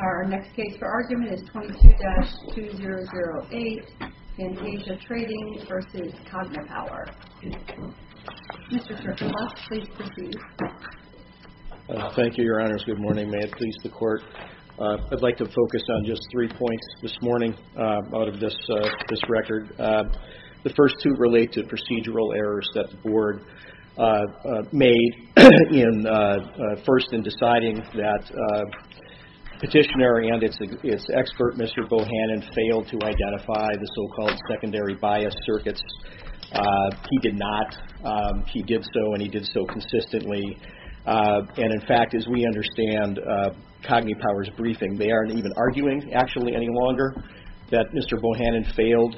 Our next case for argument is 22-2008 Fantasia Trading v. CogniPower Thank you, your honors. Good morning. May it please the court. I'd like to focus on just three points this morning out of this record. The first two relate to procedural errors that the board made in first in deciding that petitioner and its expert, Mr. Bohannon, failed to identify the so-called secondary bias circuits. He did not. He did so, and he did so consistently. And in fact, as we understand CogniPower's briefing, they aren't even arguing, actually, any longer that Mr. Bohannon failed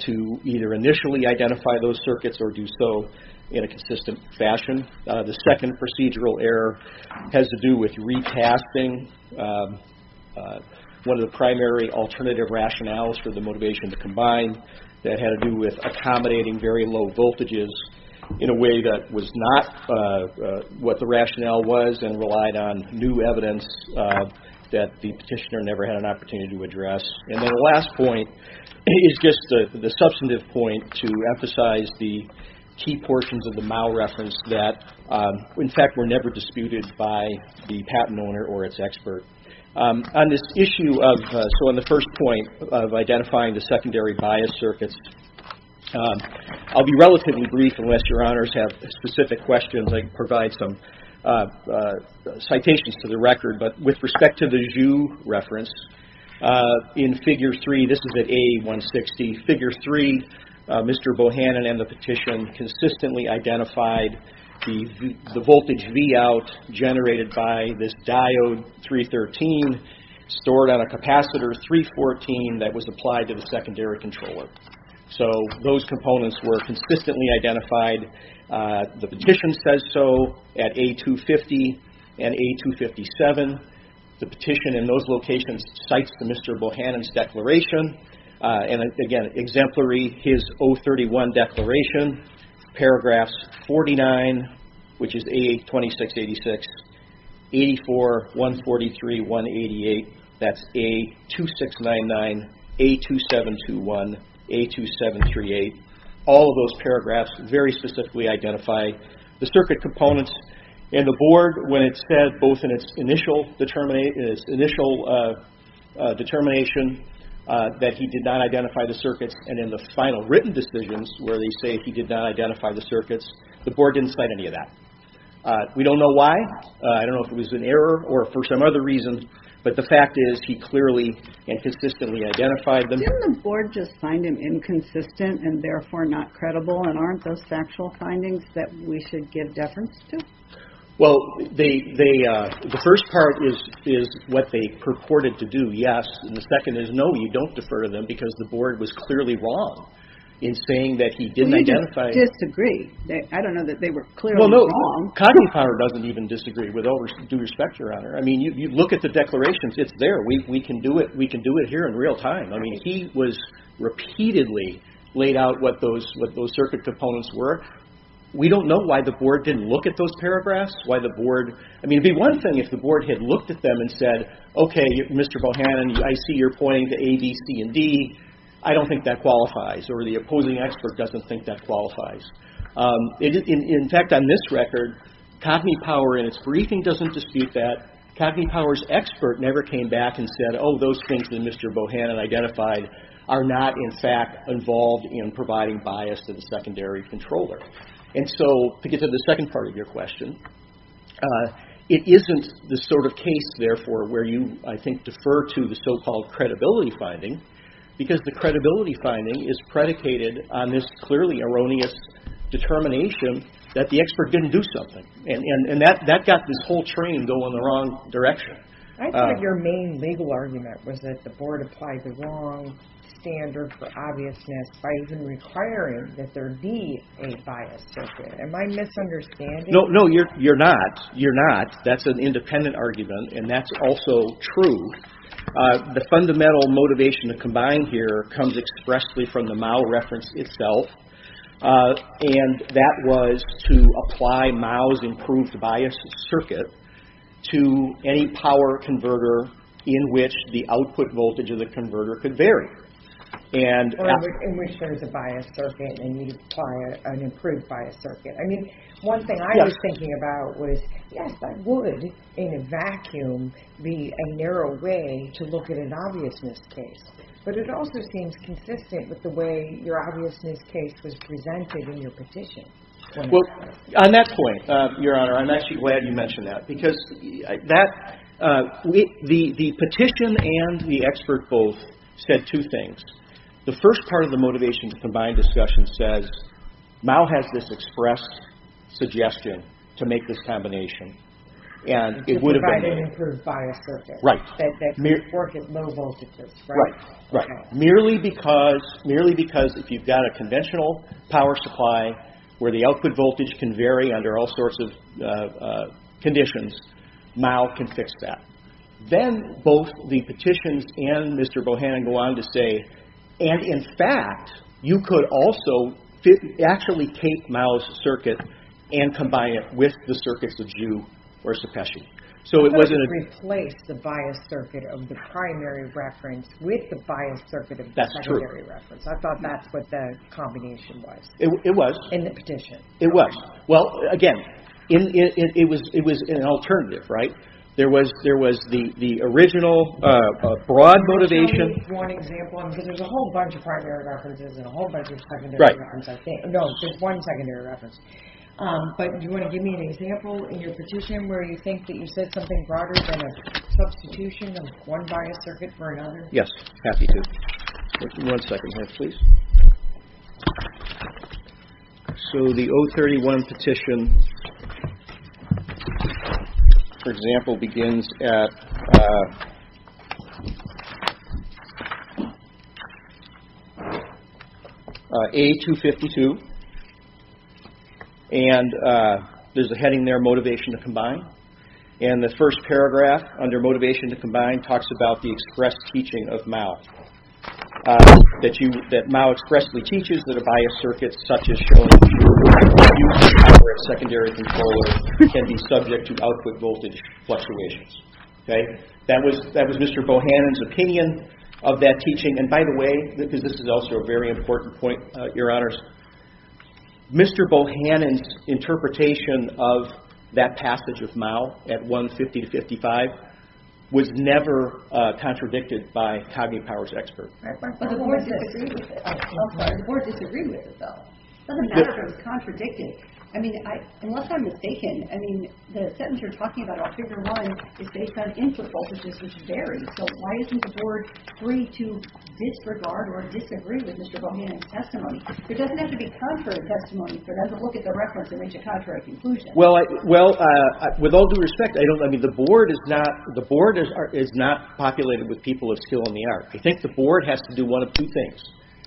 to either initially identify those circuits or do so in a consistent fashion. The second procedural error has to do with recasting one of the primary alternative rationales for the motivation to combine that had to do with accommodating very low voltages in a way that was not what the rationale was and relied on new evidence that the petitioner never had an opportunity to address. And then the last point is just the substantive point to emphasize the key portions of the Mao reference that, in fact, were never disputed by the patent owner or its expert. On this issue of, so on the first point of identifying the secondary bias circuits, I'll be relatively brief unless your honors have specific questions. I can provide some citations to the record, but with respect to the Zhu reference in figure 3, this is at A160. Figure 3, Mr. Bohannon and the petition consistently identified the voltage Vout generated by this diode 313 stored on a capacitor 314 that was applied to the secondary controller. So those components were consistently identified. The petition says so at A250 and A257. The petition in those locations cites the Mr. Bohannon's declaration and again exemplary his O31 declaration paragraphs 49, which is A2686, 84, 143, 188, that's A2699, A2721, A2738. All of those paragraphs very specifically identify the circuit components and the board when it said both in its initial determination that he did not identify the circuits and in the final written decisions where they say he did not identify the circuits, the board didn't cite any of that. We don't know why. I don't know if it was an error or for some other reason, but the fact is he clearly and consistently identified them. Didn't the board just find him inconsistent and therefore not credible and aren't those factual findings that we should give deference to? Well, the first part is what they purported to do, yes. The second is no, you don't defer them because the board was clearly wrong in saying that he didn't identify Well, you just disagree. I don't know that they were clearly wrong. Cognizant Power doesn't even disagree with all due respect, Your Honor. Look at the declarations. It's there. We can do it here in real time. He was repeatedly laid out what those circuit components were. We don't know why the board didn't look at those paragraphs. I mean, it would be one thing if the board had looked at them and said, okay, Mr. Bohannon, I see you're pointing to A, B, C, and D. I don't think that qualifies or the opposing expert doesn't think that qualifies. In fact, on this record, Cognizant Power in its briefing doesn't dispute that. Cognizant Power's expert never came back and said, oh, those things that Mr. Bohannon identified are not, in fact, involved in providing bias to the secondary controller. And so, to get to the second part of your question, it isn't the sort of case, therefore, where you, I think, defer to the so-called credibility finding because the credibility finding is predicated on this clearly erroneous determination that the expert didn't do something. And that got this whole train going the wrong direction. I thought your main legal argument was that the board applied the wrong standard for obviousness by even requiring that there be a biased circuit. Am I misunderstanding? No, no, you're not. You're not. That's an independent argument, and that's also true. The fundamental motivation to combine here comes expressly from the MOU reference itself, and that was to apply MOU's improved biased circuit to any power converter in which the output voltage of the converter could vary. Or in which there's a biased circuit and you need to apply an improved biased circuit. I mean, one thing I was thinking about was yes, that would, in a vacuum, be a narrow way to look at an obviousness case. But it also seems consistent with the way your obviousness case was presented in your petition. Well, on that point, Your Honor, I'm actually glad you mentioned that. Because that the petition and the expert both said two things. The first part of the motivation to combine discussion says MOU has this expressed suggestion to make this combination and it would have been... To provide an improved biased circuit. Right. That could work at low voltages, right? Right. Merely because if you've got a conventional power supply where the output voltage can vary under all sorts of conditions, MOU can fix that. Then both the petitions and Mr. Bohannon go on to say, and in fact you could also actually take MOU's circuit and combine it with the circuits of JEW or CEPESCI. So it wasn't a... You could have replaced the biased circuit of the primary reference with the biased circuit of the secondary reference. That's true. I thought that's what the combination was. It was. In the petition. It was. Well, again, it was an alternative, right? There was the original broad motivation... Can you tell me one example? Because there's a whole bunch of primary references and a whole bunch of secondary references, I think. Right. No, there's one secondary reference. But do you want to give me an example in your petition where you think that you said something broader than a happy to? One second here, please. So the O31 petition for example begins at A252 and there's a heading there, motivation to combine. And the first paragraph under motivation to combine talks about the express teaching of MOU. That MOU expressly teaches that a biased circuit such as shown here, used to power a secondary controller can be subject to output voltage fluctuations. That was Mr. Bohannon's opinion of that teaching. And by the way, because this is also a very important point, your honors, Mr. Bohannon's interpretation of that passage of MOU at 150-55 was never contradicted by Cognate Power's expert. The board disagreed with it though. It doesn't matter if it was contradicted. I mean, unless I'm mistaken, I mean, the sentence you're talking about on Figure 1 is based on input voltages which vary. So why isn't the board free to disregard or disagree with Mr. Bohannon's testimony? It doesn't have to be contrary testimony that doesn't look at the reference and reach a contrary conclusion. Well, with all due respect, I mean, the board is not populated with people of skill in the art. I think the board has to do one of two things.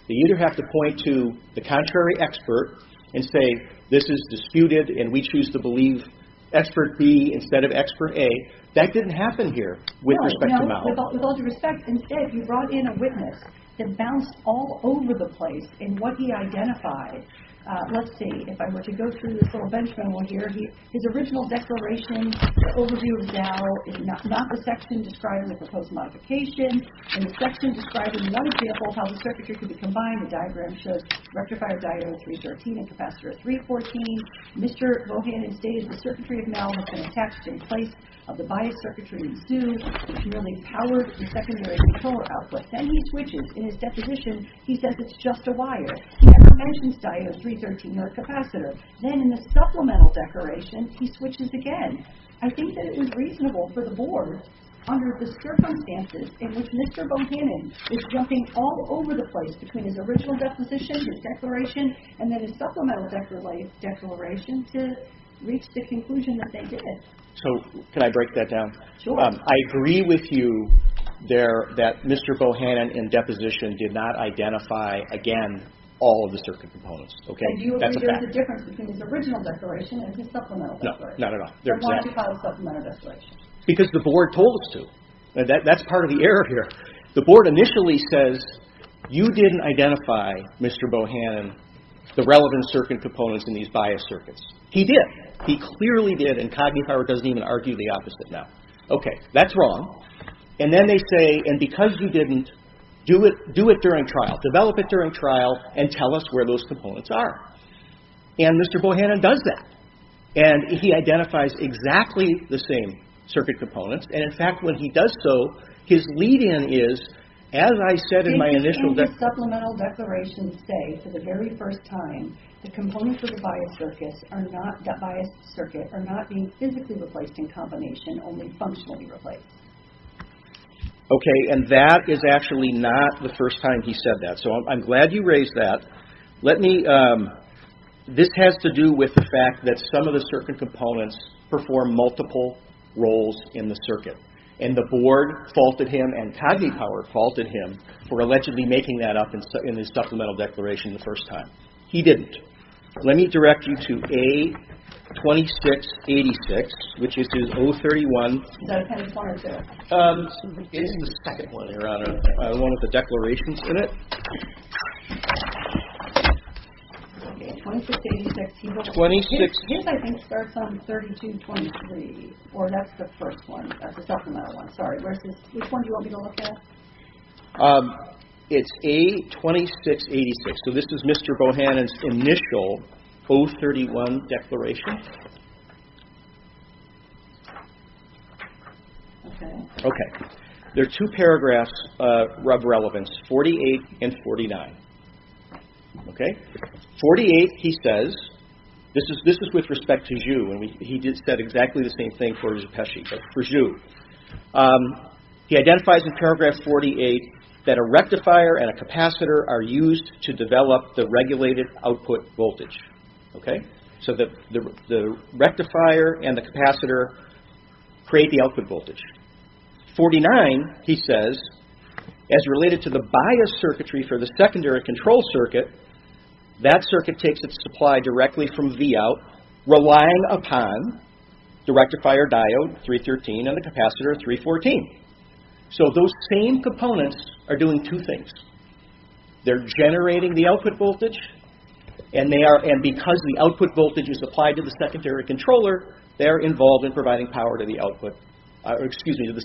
They either have to point to the contrary expert and say this is disputed and we choose to believe expert B instead of expert A. That didn't happen here with respect to MOU. With all due respect, instead you brought in a witness that bounced all over the place in what he identified. Let's see. If I were to go through this little bench memo here, his original declaration, the overview of Zao is not the section describing the proposed modification. In the section describing one example of how the circuitry could be combined, the diagram shows rectifier diode 313 and capacitor 314. Mr. Bohannon stated the circuitry of Mao has been attached in place of the bias circuitry in Sue's which merely powered the secondary controller output. Then he switches. In his deposition, he says it's just a wire. He never mentions diode 313 or capacitor. Then in the supplemental declaration, he switches again. I think that it was reasonable for the board under the circumstances in which Mr. Bohannon is jumping all over the place between his original deposition, his declaration, and then his supplemental declaration to reach the conclusion that they did. So, can I break that down? Sure. I agree with you there that Mr. Bohannon in deposition did not identify, again, all of the circuit components. Because the board told us to. That's part of the error here. The board initially says, you didn't identify, Mr. Bohannon, the relevant circuit components in these bias circuits. He did. He clearly did, and Cogney-Farber doesn't even argue the opposite now. Okay, that's wrong. And then they say, and because you didn't, do it during trial. Develop it during trial and tell us where those components are. And Mr. Bohannon does that. And he identifies exactly the same circuit components. And, in fact, when he does so, his lead-in is, as I said in my initial... Can the supplemental declaration say, for the very first time, the components of the bias circuit are not being physically replaced in combination, only functionally replaced? Okay, and that is actually not the first time he said that. So, I'm glad you raised that. This has to do with the fact that some of the circuit components perform multiple roles in the circuit. And the board faulted him, and Cogney-Farber faulted him, for allegedly making that up in his supplemental declaration the first time. He didn't. Let me direct you to A2686, which is O31... It is the second one, Your Honor. The one with the declarations in it. Okay, 2686. His, I think, starts on 3223. Or that's the first one. That's the supplemental one. Sorry. Which one do you want me to look at? It's A2686. So, this is Mr. Bohannon's initial O31 declaration. Okay. There are two paragraphs of relevance, 48 and 49. Okay? 48, he says, this is with respect to Joux. He said exactly the same thing for Zepeshi, for Joux. He identifies in paragraph 48 that a rectifier and a capacitor are used to develop the regulated output voltage. Okay? So, the rectifier and the capacitor create the output voltage. 49, he says, as related to the bias circuitry for the secondary control circuit, that circuit takes its supply directly from Vout, relying upon the rectifier diode, 313, and the capacitor, 314. So, those same components are doing two things. They're generating the output voltage, and because the output voltage is applied to the secondary controller, they're involved in providing power to the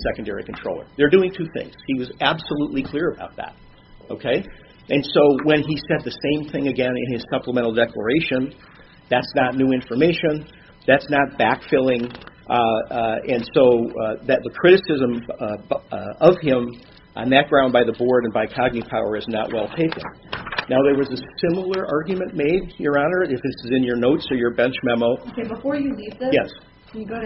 secondary controller. They're doing two things. He was absolutely clear about that. Okay? And so, when he said the same thing again in his supplemental declaration, that's not new information. That's not backfilling. And so, the criticism of him on that ground by the board and by Cogney Power is not well taken. Now, there was a similar argument made, Your Honor, if this is in your notes or your bench memo. Yes. Sorry? Yes. Yes.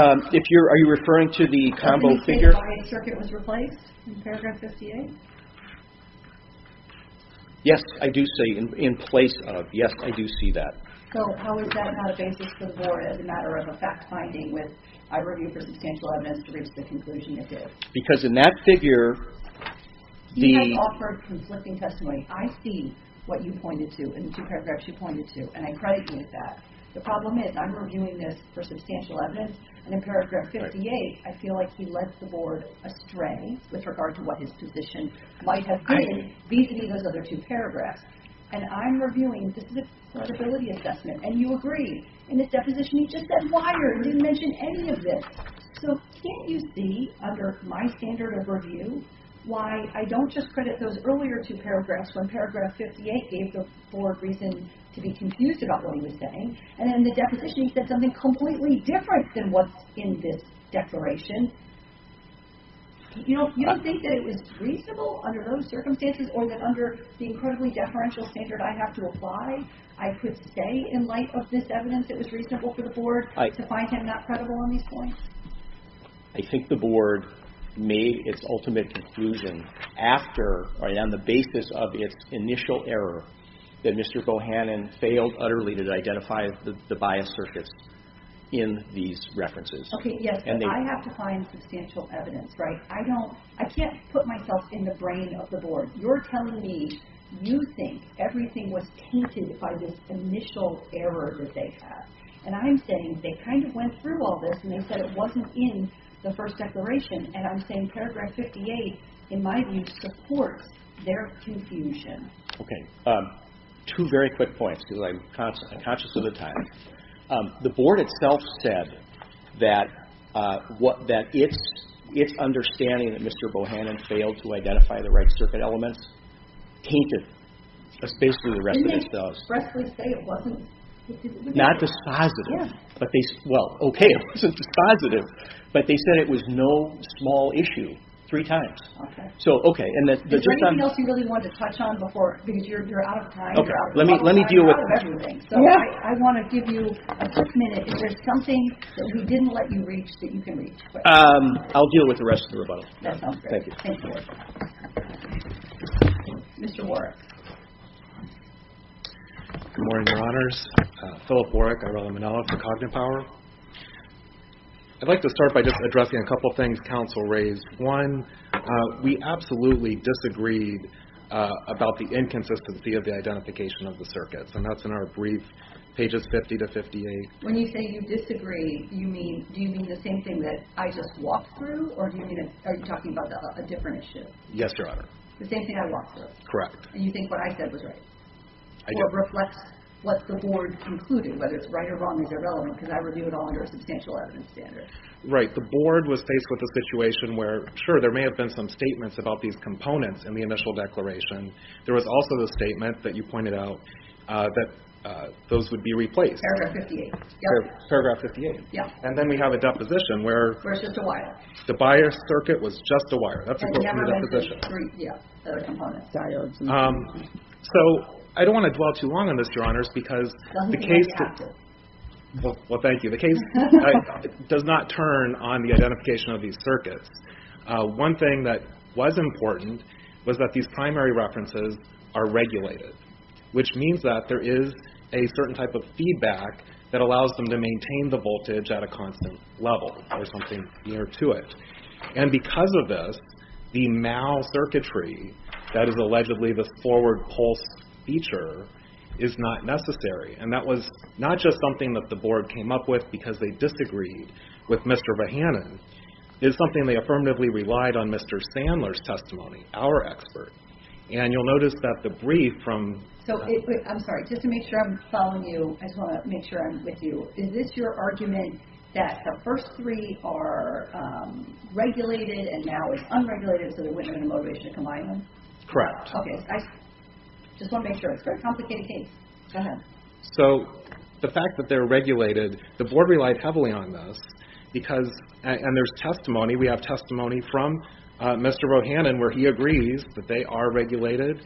Are you referring to the combo figure? Yes, I do see that. Because in that figure, he has offered conflicting testimony. I see what you pointed to in the two paragraphs you pointed to, and I credit you with that. The problem is, I'm reviewing this for substantial evidence, and in paragraph 58, I feel like he led the board astray with regard to what his position might have been vis-à-vis those other two paragraphs. And I'm reviewing this as a credibility assessment, and you agree. In this deposition, he just said, wired. He didn't mention any of this. So, can't you see, under my standard of review, why I don't just credit those earlier two paragraphs when paragraph 58 gave the board reason to be confused about what he was saying, and in the deposition, he said something completely different than what's in this declaration. You don't think that it was reasonable under those circumstances or that under the incredibly deferential standard I have to apply, I could say, in light of this evidence, it was reasonable for the board to find him not credible on these points? I think the board made its ultimate conclusion after, on the basis of its initial error, that Mr. Bohannon failed utterly to identify the bias circuits in these references. Okay, yes, but I have to find substantial evidence, right? I can't put myself in the brain of the board. You're telling me you think everything was tainted by this initial error that they had? And I'm saying they kind of went through all this and they said it wasn't in the first declaration and I'm saying paragraph 58, in my view, supports their confusion. Two very quick points because I'm conscious of the time. The board itself said that its understanding that Mr. Bohannon failed to identify the right circuit elements tainted is basically the rest of it. Not dispositive. Well, okay, it wasn't dispositive, but they said it was no small issue three times. Is there anything else you really wanted to touch on before? Because you're out of time. I want to give you a quick minute. Is there something that we didn't let you reach that you can reach? I'll deal with the rest of the rebuttal. That sounds great. Thank you. Mr. Warrick. Good morning, Your Honors. Philip Warrick, Irella Monello for Cognitive Power. I'd like to start by just addressing a couple things counsel raised. One, we absolutely disagreed about the inconsistency of the identification of the circuits, and that's in our brief, pages 50-58. When you say you disagree, do you mean the same thing that I just walked through, or are you talking about a different issue? Yes, Your Honor. The same thing I walked through? Correct. And you think what I said was right? Or reflects what the board concluded, whether it's right or wrong or irrelevant, because I review it all under a substantial evidence standard. Right. The board was faced with a situation where, sure, there may have been some statements about these components in the initial declaration. There was also the statement that you pointed out that those would be replaced. Paragraph 58. And then we have a deposition where the bias circuit was just a wire. So I don't want to dwell too long on this, Your Honors, because the case does not turn on the identification of these circuits. One thing that was important was that these primary references are regulated, which means that there is a certain type of feedback that allows them to maintain the voltage at a constant level or something near to it. And because of this, the mal-circuitry that is allegedly the forward pulse feature is not necessary. And that was not just something that the board came up with because they disagreed with Mr. Vahanen. It's something they affirmatively relied on Mr. Sandler's testimony, our expert. And you'll notice that the brief from... I just want to make sure I'm with you. Is this your argument that the first three are regulated and now it's unregulated so there wouldn't have been a motivation to combine them? Correct. Okay. I just want to make sure. It's a very complicated case. Go ahead. So the fact that they're regulated, the board relied heavily on this because...and there's testimony. We have testimony from Mr. Vahanen where he agrees that they are regulated.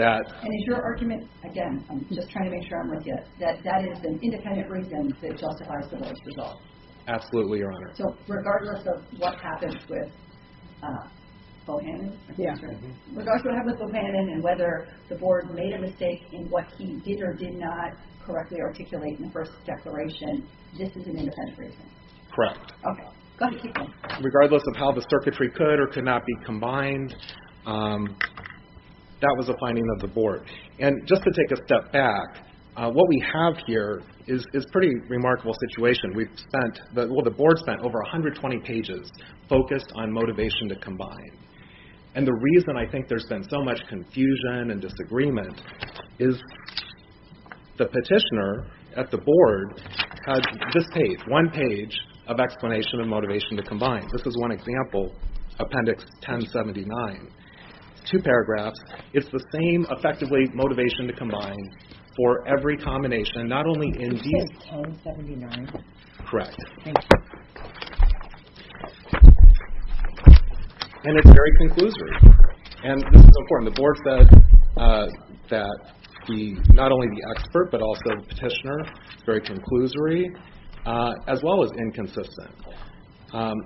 And is your argument, again, I'm just trying to make sure I'm with you, that that is an independent reason that justifies the worst result? Absolutely, Your Honor. So regardless of what happens with Vahanen, and whether the board made a mistake in what he did or did not correctly articulate in the first declaration, this is an independent reason? Correct. Okay. Go ahead. Regardless of how the circuitry could or could not be combined, that was a finding of the board. And just to take a step back, what we have here is a pretty remarkable situation. The board spent over 120 pages focused on motivation to combine. And the reason I think there's been so much confusion and disagreement is the petitioner one page of explanation of motivation to combine. This is one example, Appendix 1079. Two paragraphs. It's the same effectively motivation to combine for every combination and not only in these... It says 1079? Correct. And it's very conclusory. And this is important. The board said that not only the expert but also the petitioner, it's very conclusory as well as inconsistent.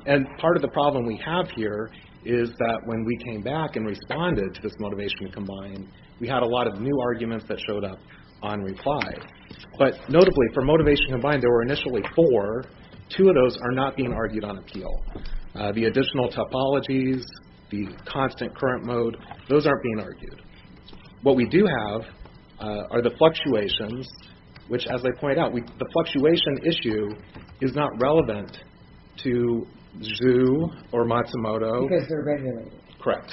And part of the problem we have here is that when we came back and responded to this motivation to combine, we had a lot of new arguments that showed up on reply. But notably, for motivation to combine, there were initially four. Two of those are not being argued on appeal. The additional topologies, the constant current mode, those aren't being argued. What we do have are the fluctuations which, as I pointed out, the fluctuation issue is not relevant to Zhu or Matsumoto. Because they're regulated. Correct.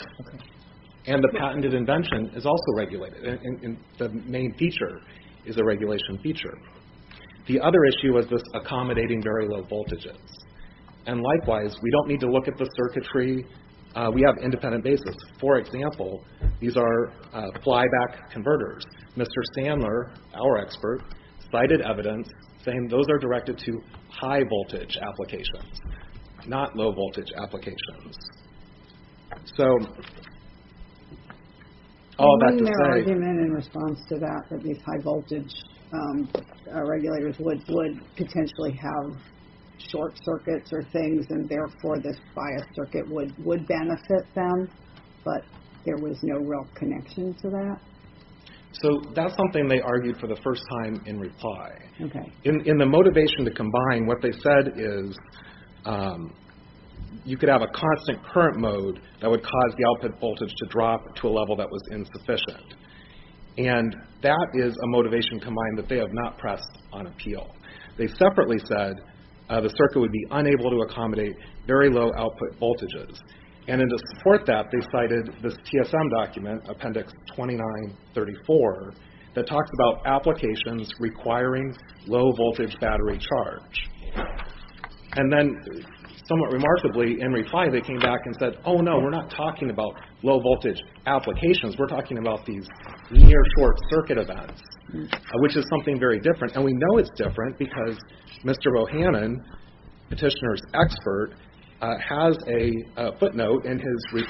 And the patented invention is also regulated. The main feature is a regulation feature. The other issue is this accommodating very low voltages. And likewise, we don't need to look at the circuitry. We have independent basis. For example, these are our expert cited evidence saying those are directed to high voltage applications, not low voltage applications. So... In response to that, these high voltage regulators would potentially have short circuits or things and therefore this bias circuit would benefit them. But there was no real connection to that. So that's something they argued for the first time in reply. In the motivation to combine, what they said is you could have a constant current mode that would cause the output voltage to drop to a level that was insufficient. And that is a motivation combined that they have not pressed on appeal. They separately said the circuit would be unable to accommodate very low output voltages. And in to support that, they cited this TSM document, appendix 2934 that talks about applications requiring low voltage battery charge. And then, somewhat remarkably, in reply they came back and said, oh no, we're not talking about low voltage applications. We're talking about these near short circuit events, which is something very different. And we know it's different because Mr. Bohannon, petitioner's expert, has a footnote in his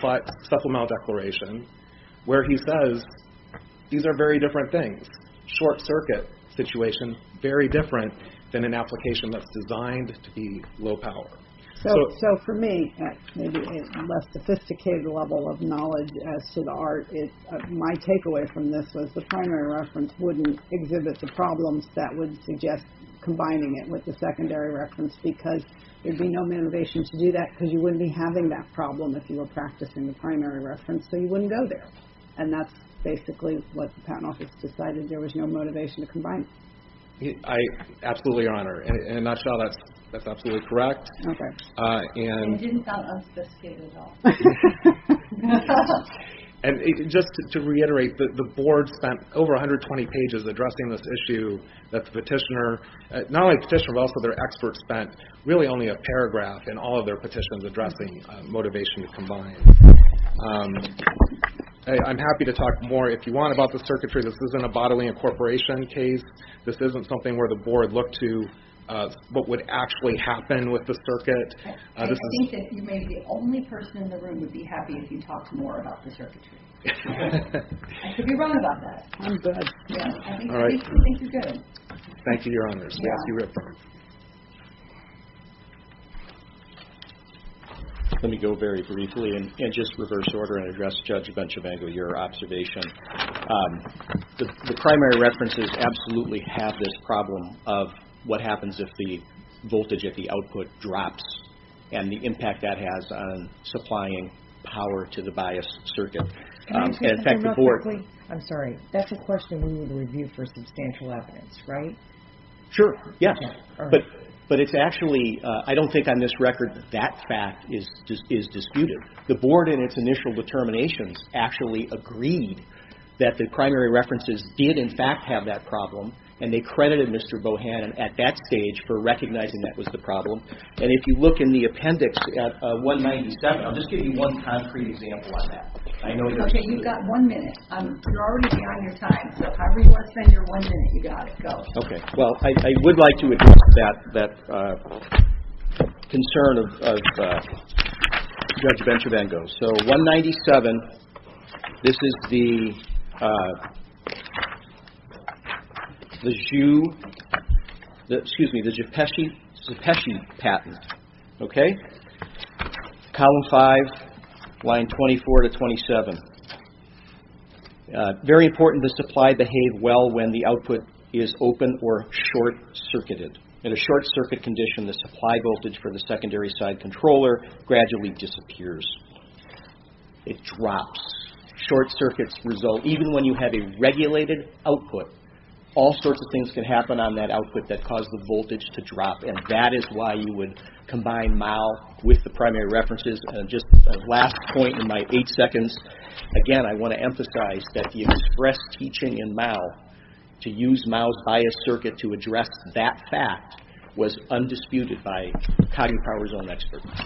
supplemental declaration where he says these are very different things. Short circuit situation very different than an application that's designed to be low power. So for me, at a less sophisticated level of knowledge as to the art, my takeaway from this was the primary reference wouldn't exhibit the problems that would suggest combining it with the secondary reference because there'd be no motivation to do that because you wouldn't be having that problem if you were practicing the primary reference so you wouldn't go there. And that's basically what the patent office decided. There was no motivation to combine it. I absolutely honor. In a nutshell, that's absolutely correct. And it didn't sound unsophisticated at all. And just to reiterate, the board spent over 120 pages addressing this issue that the petitioner, not only the petitioner but also their expert spent really only a paragraph in all of their petitions addressing motivation to combine. I'm happy to talk more if you want about the circuitry. This isn't a bodily incorporation case. This isn't something where the board looked to what would actually happen with the circuit. I think that you may be the only person in the room who'd be happy if you talked more about the circuitry. I could be wrong about that. I think you're good. Thank you, Your Honors. Let me go very briefly and just reverse order and address Judge Benchavango your observation. The primary references absolutely have this problem of what happens if the voltage at the output drops and the impact that has on supplying power to the bias circuit. I'm sorry, that's a question we would review for substantial evidence, right? Sure, yes. But it's actually, I don't think on this record that fact is disputed. The board in its initial determinations actually agreed that the primary references did in fact have that problem and they credited Mr. Bohannon at that stage for recognizing that was the problem. And if you look in the appendix at 197 I'll just give you one concrete example on that. Okay, you've got one minute. You're already beyond your time, so however you want to spend your one minute, you've got to go. Well, I would like to address that concern of Judge Benchavango. So 197, this is the patent, okay? Column 5, line 24 to 27. Very important, the supply behave well when the output is open or short-circuited. In a short-circuit condition, the supply voltage for the secondary side controller gradually disappears. It drops. Short circuits result, even when you have a regulated output, all sorts of things can happen on that combine MAU with the primary references. Just a last point in my eight seconds. Again, I want to emphasize that the express teaching in MAU to use MAU's bias circuit to address that fact was undisputed by Coggy Power's own experts.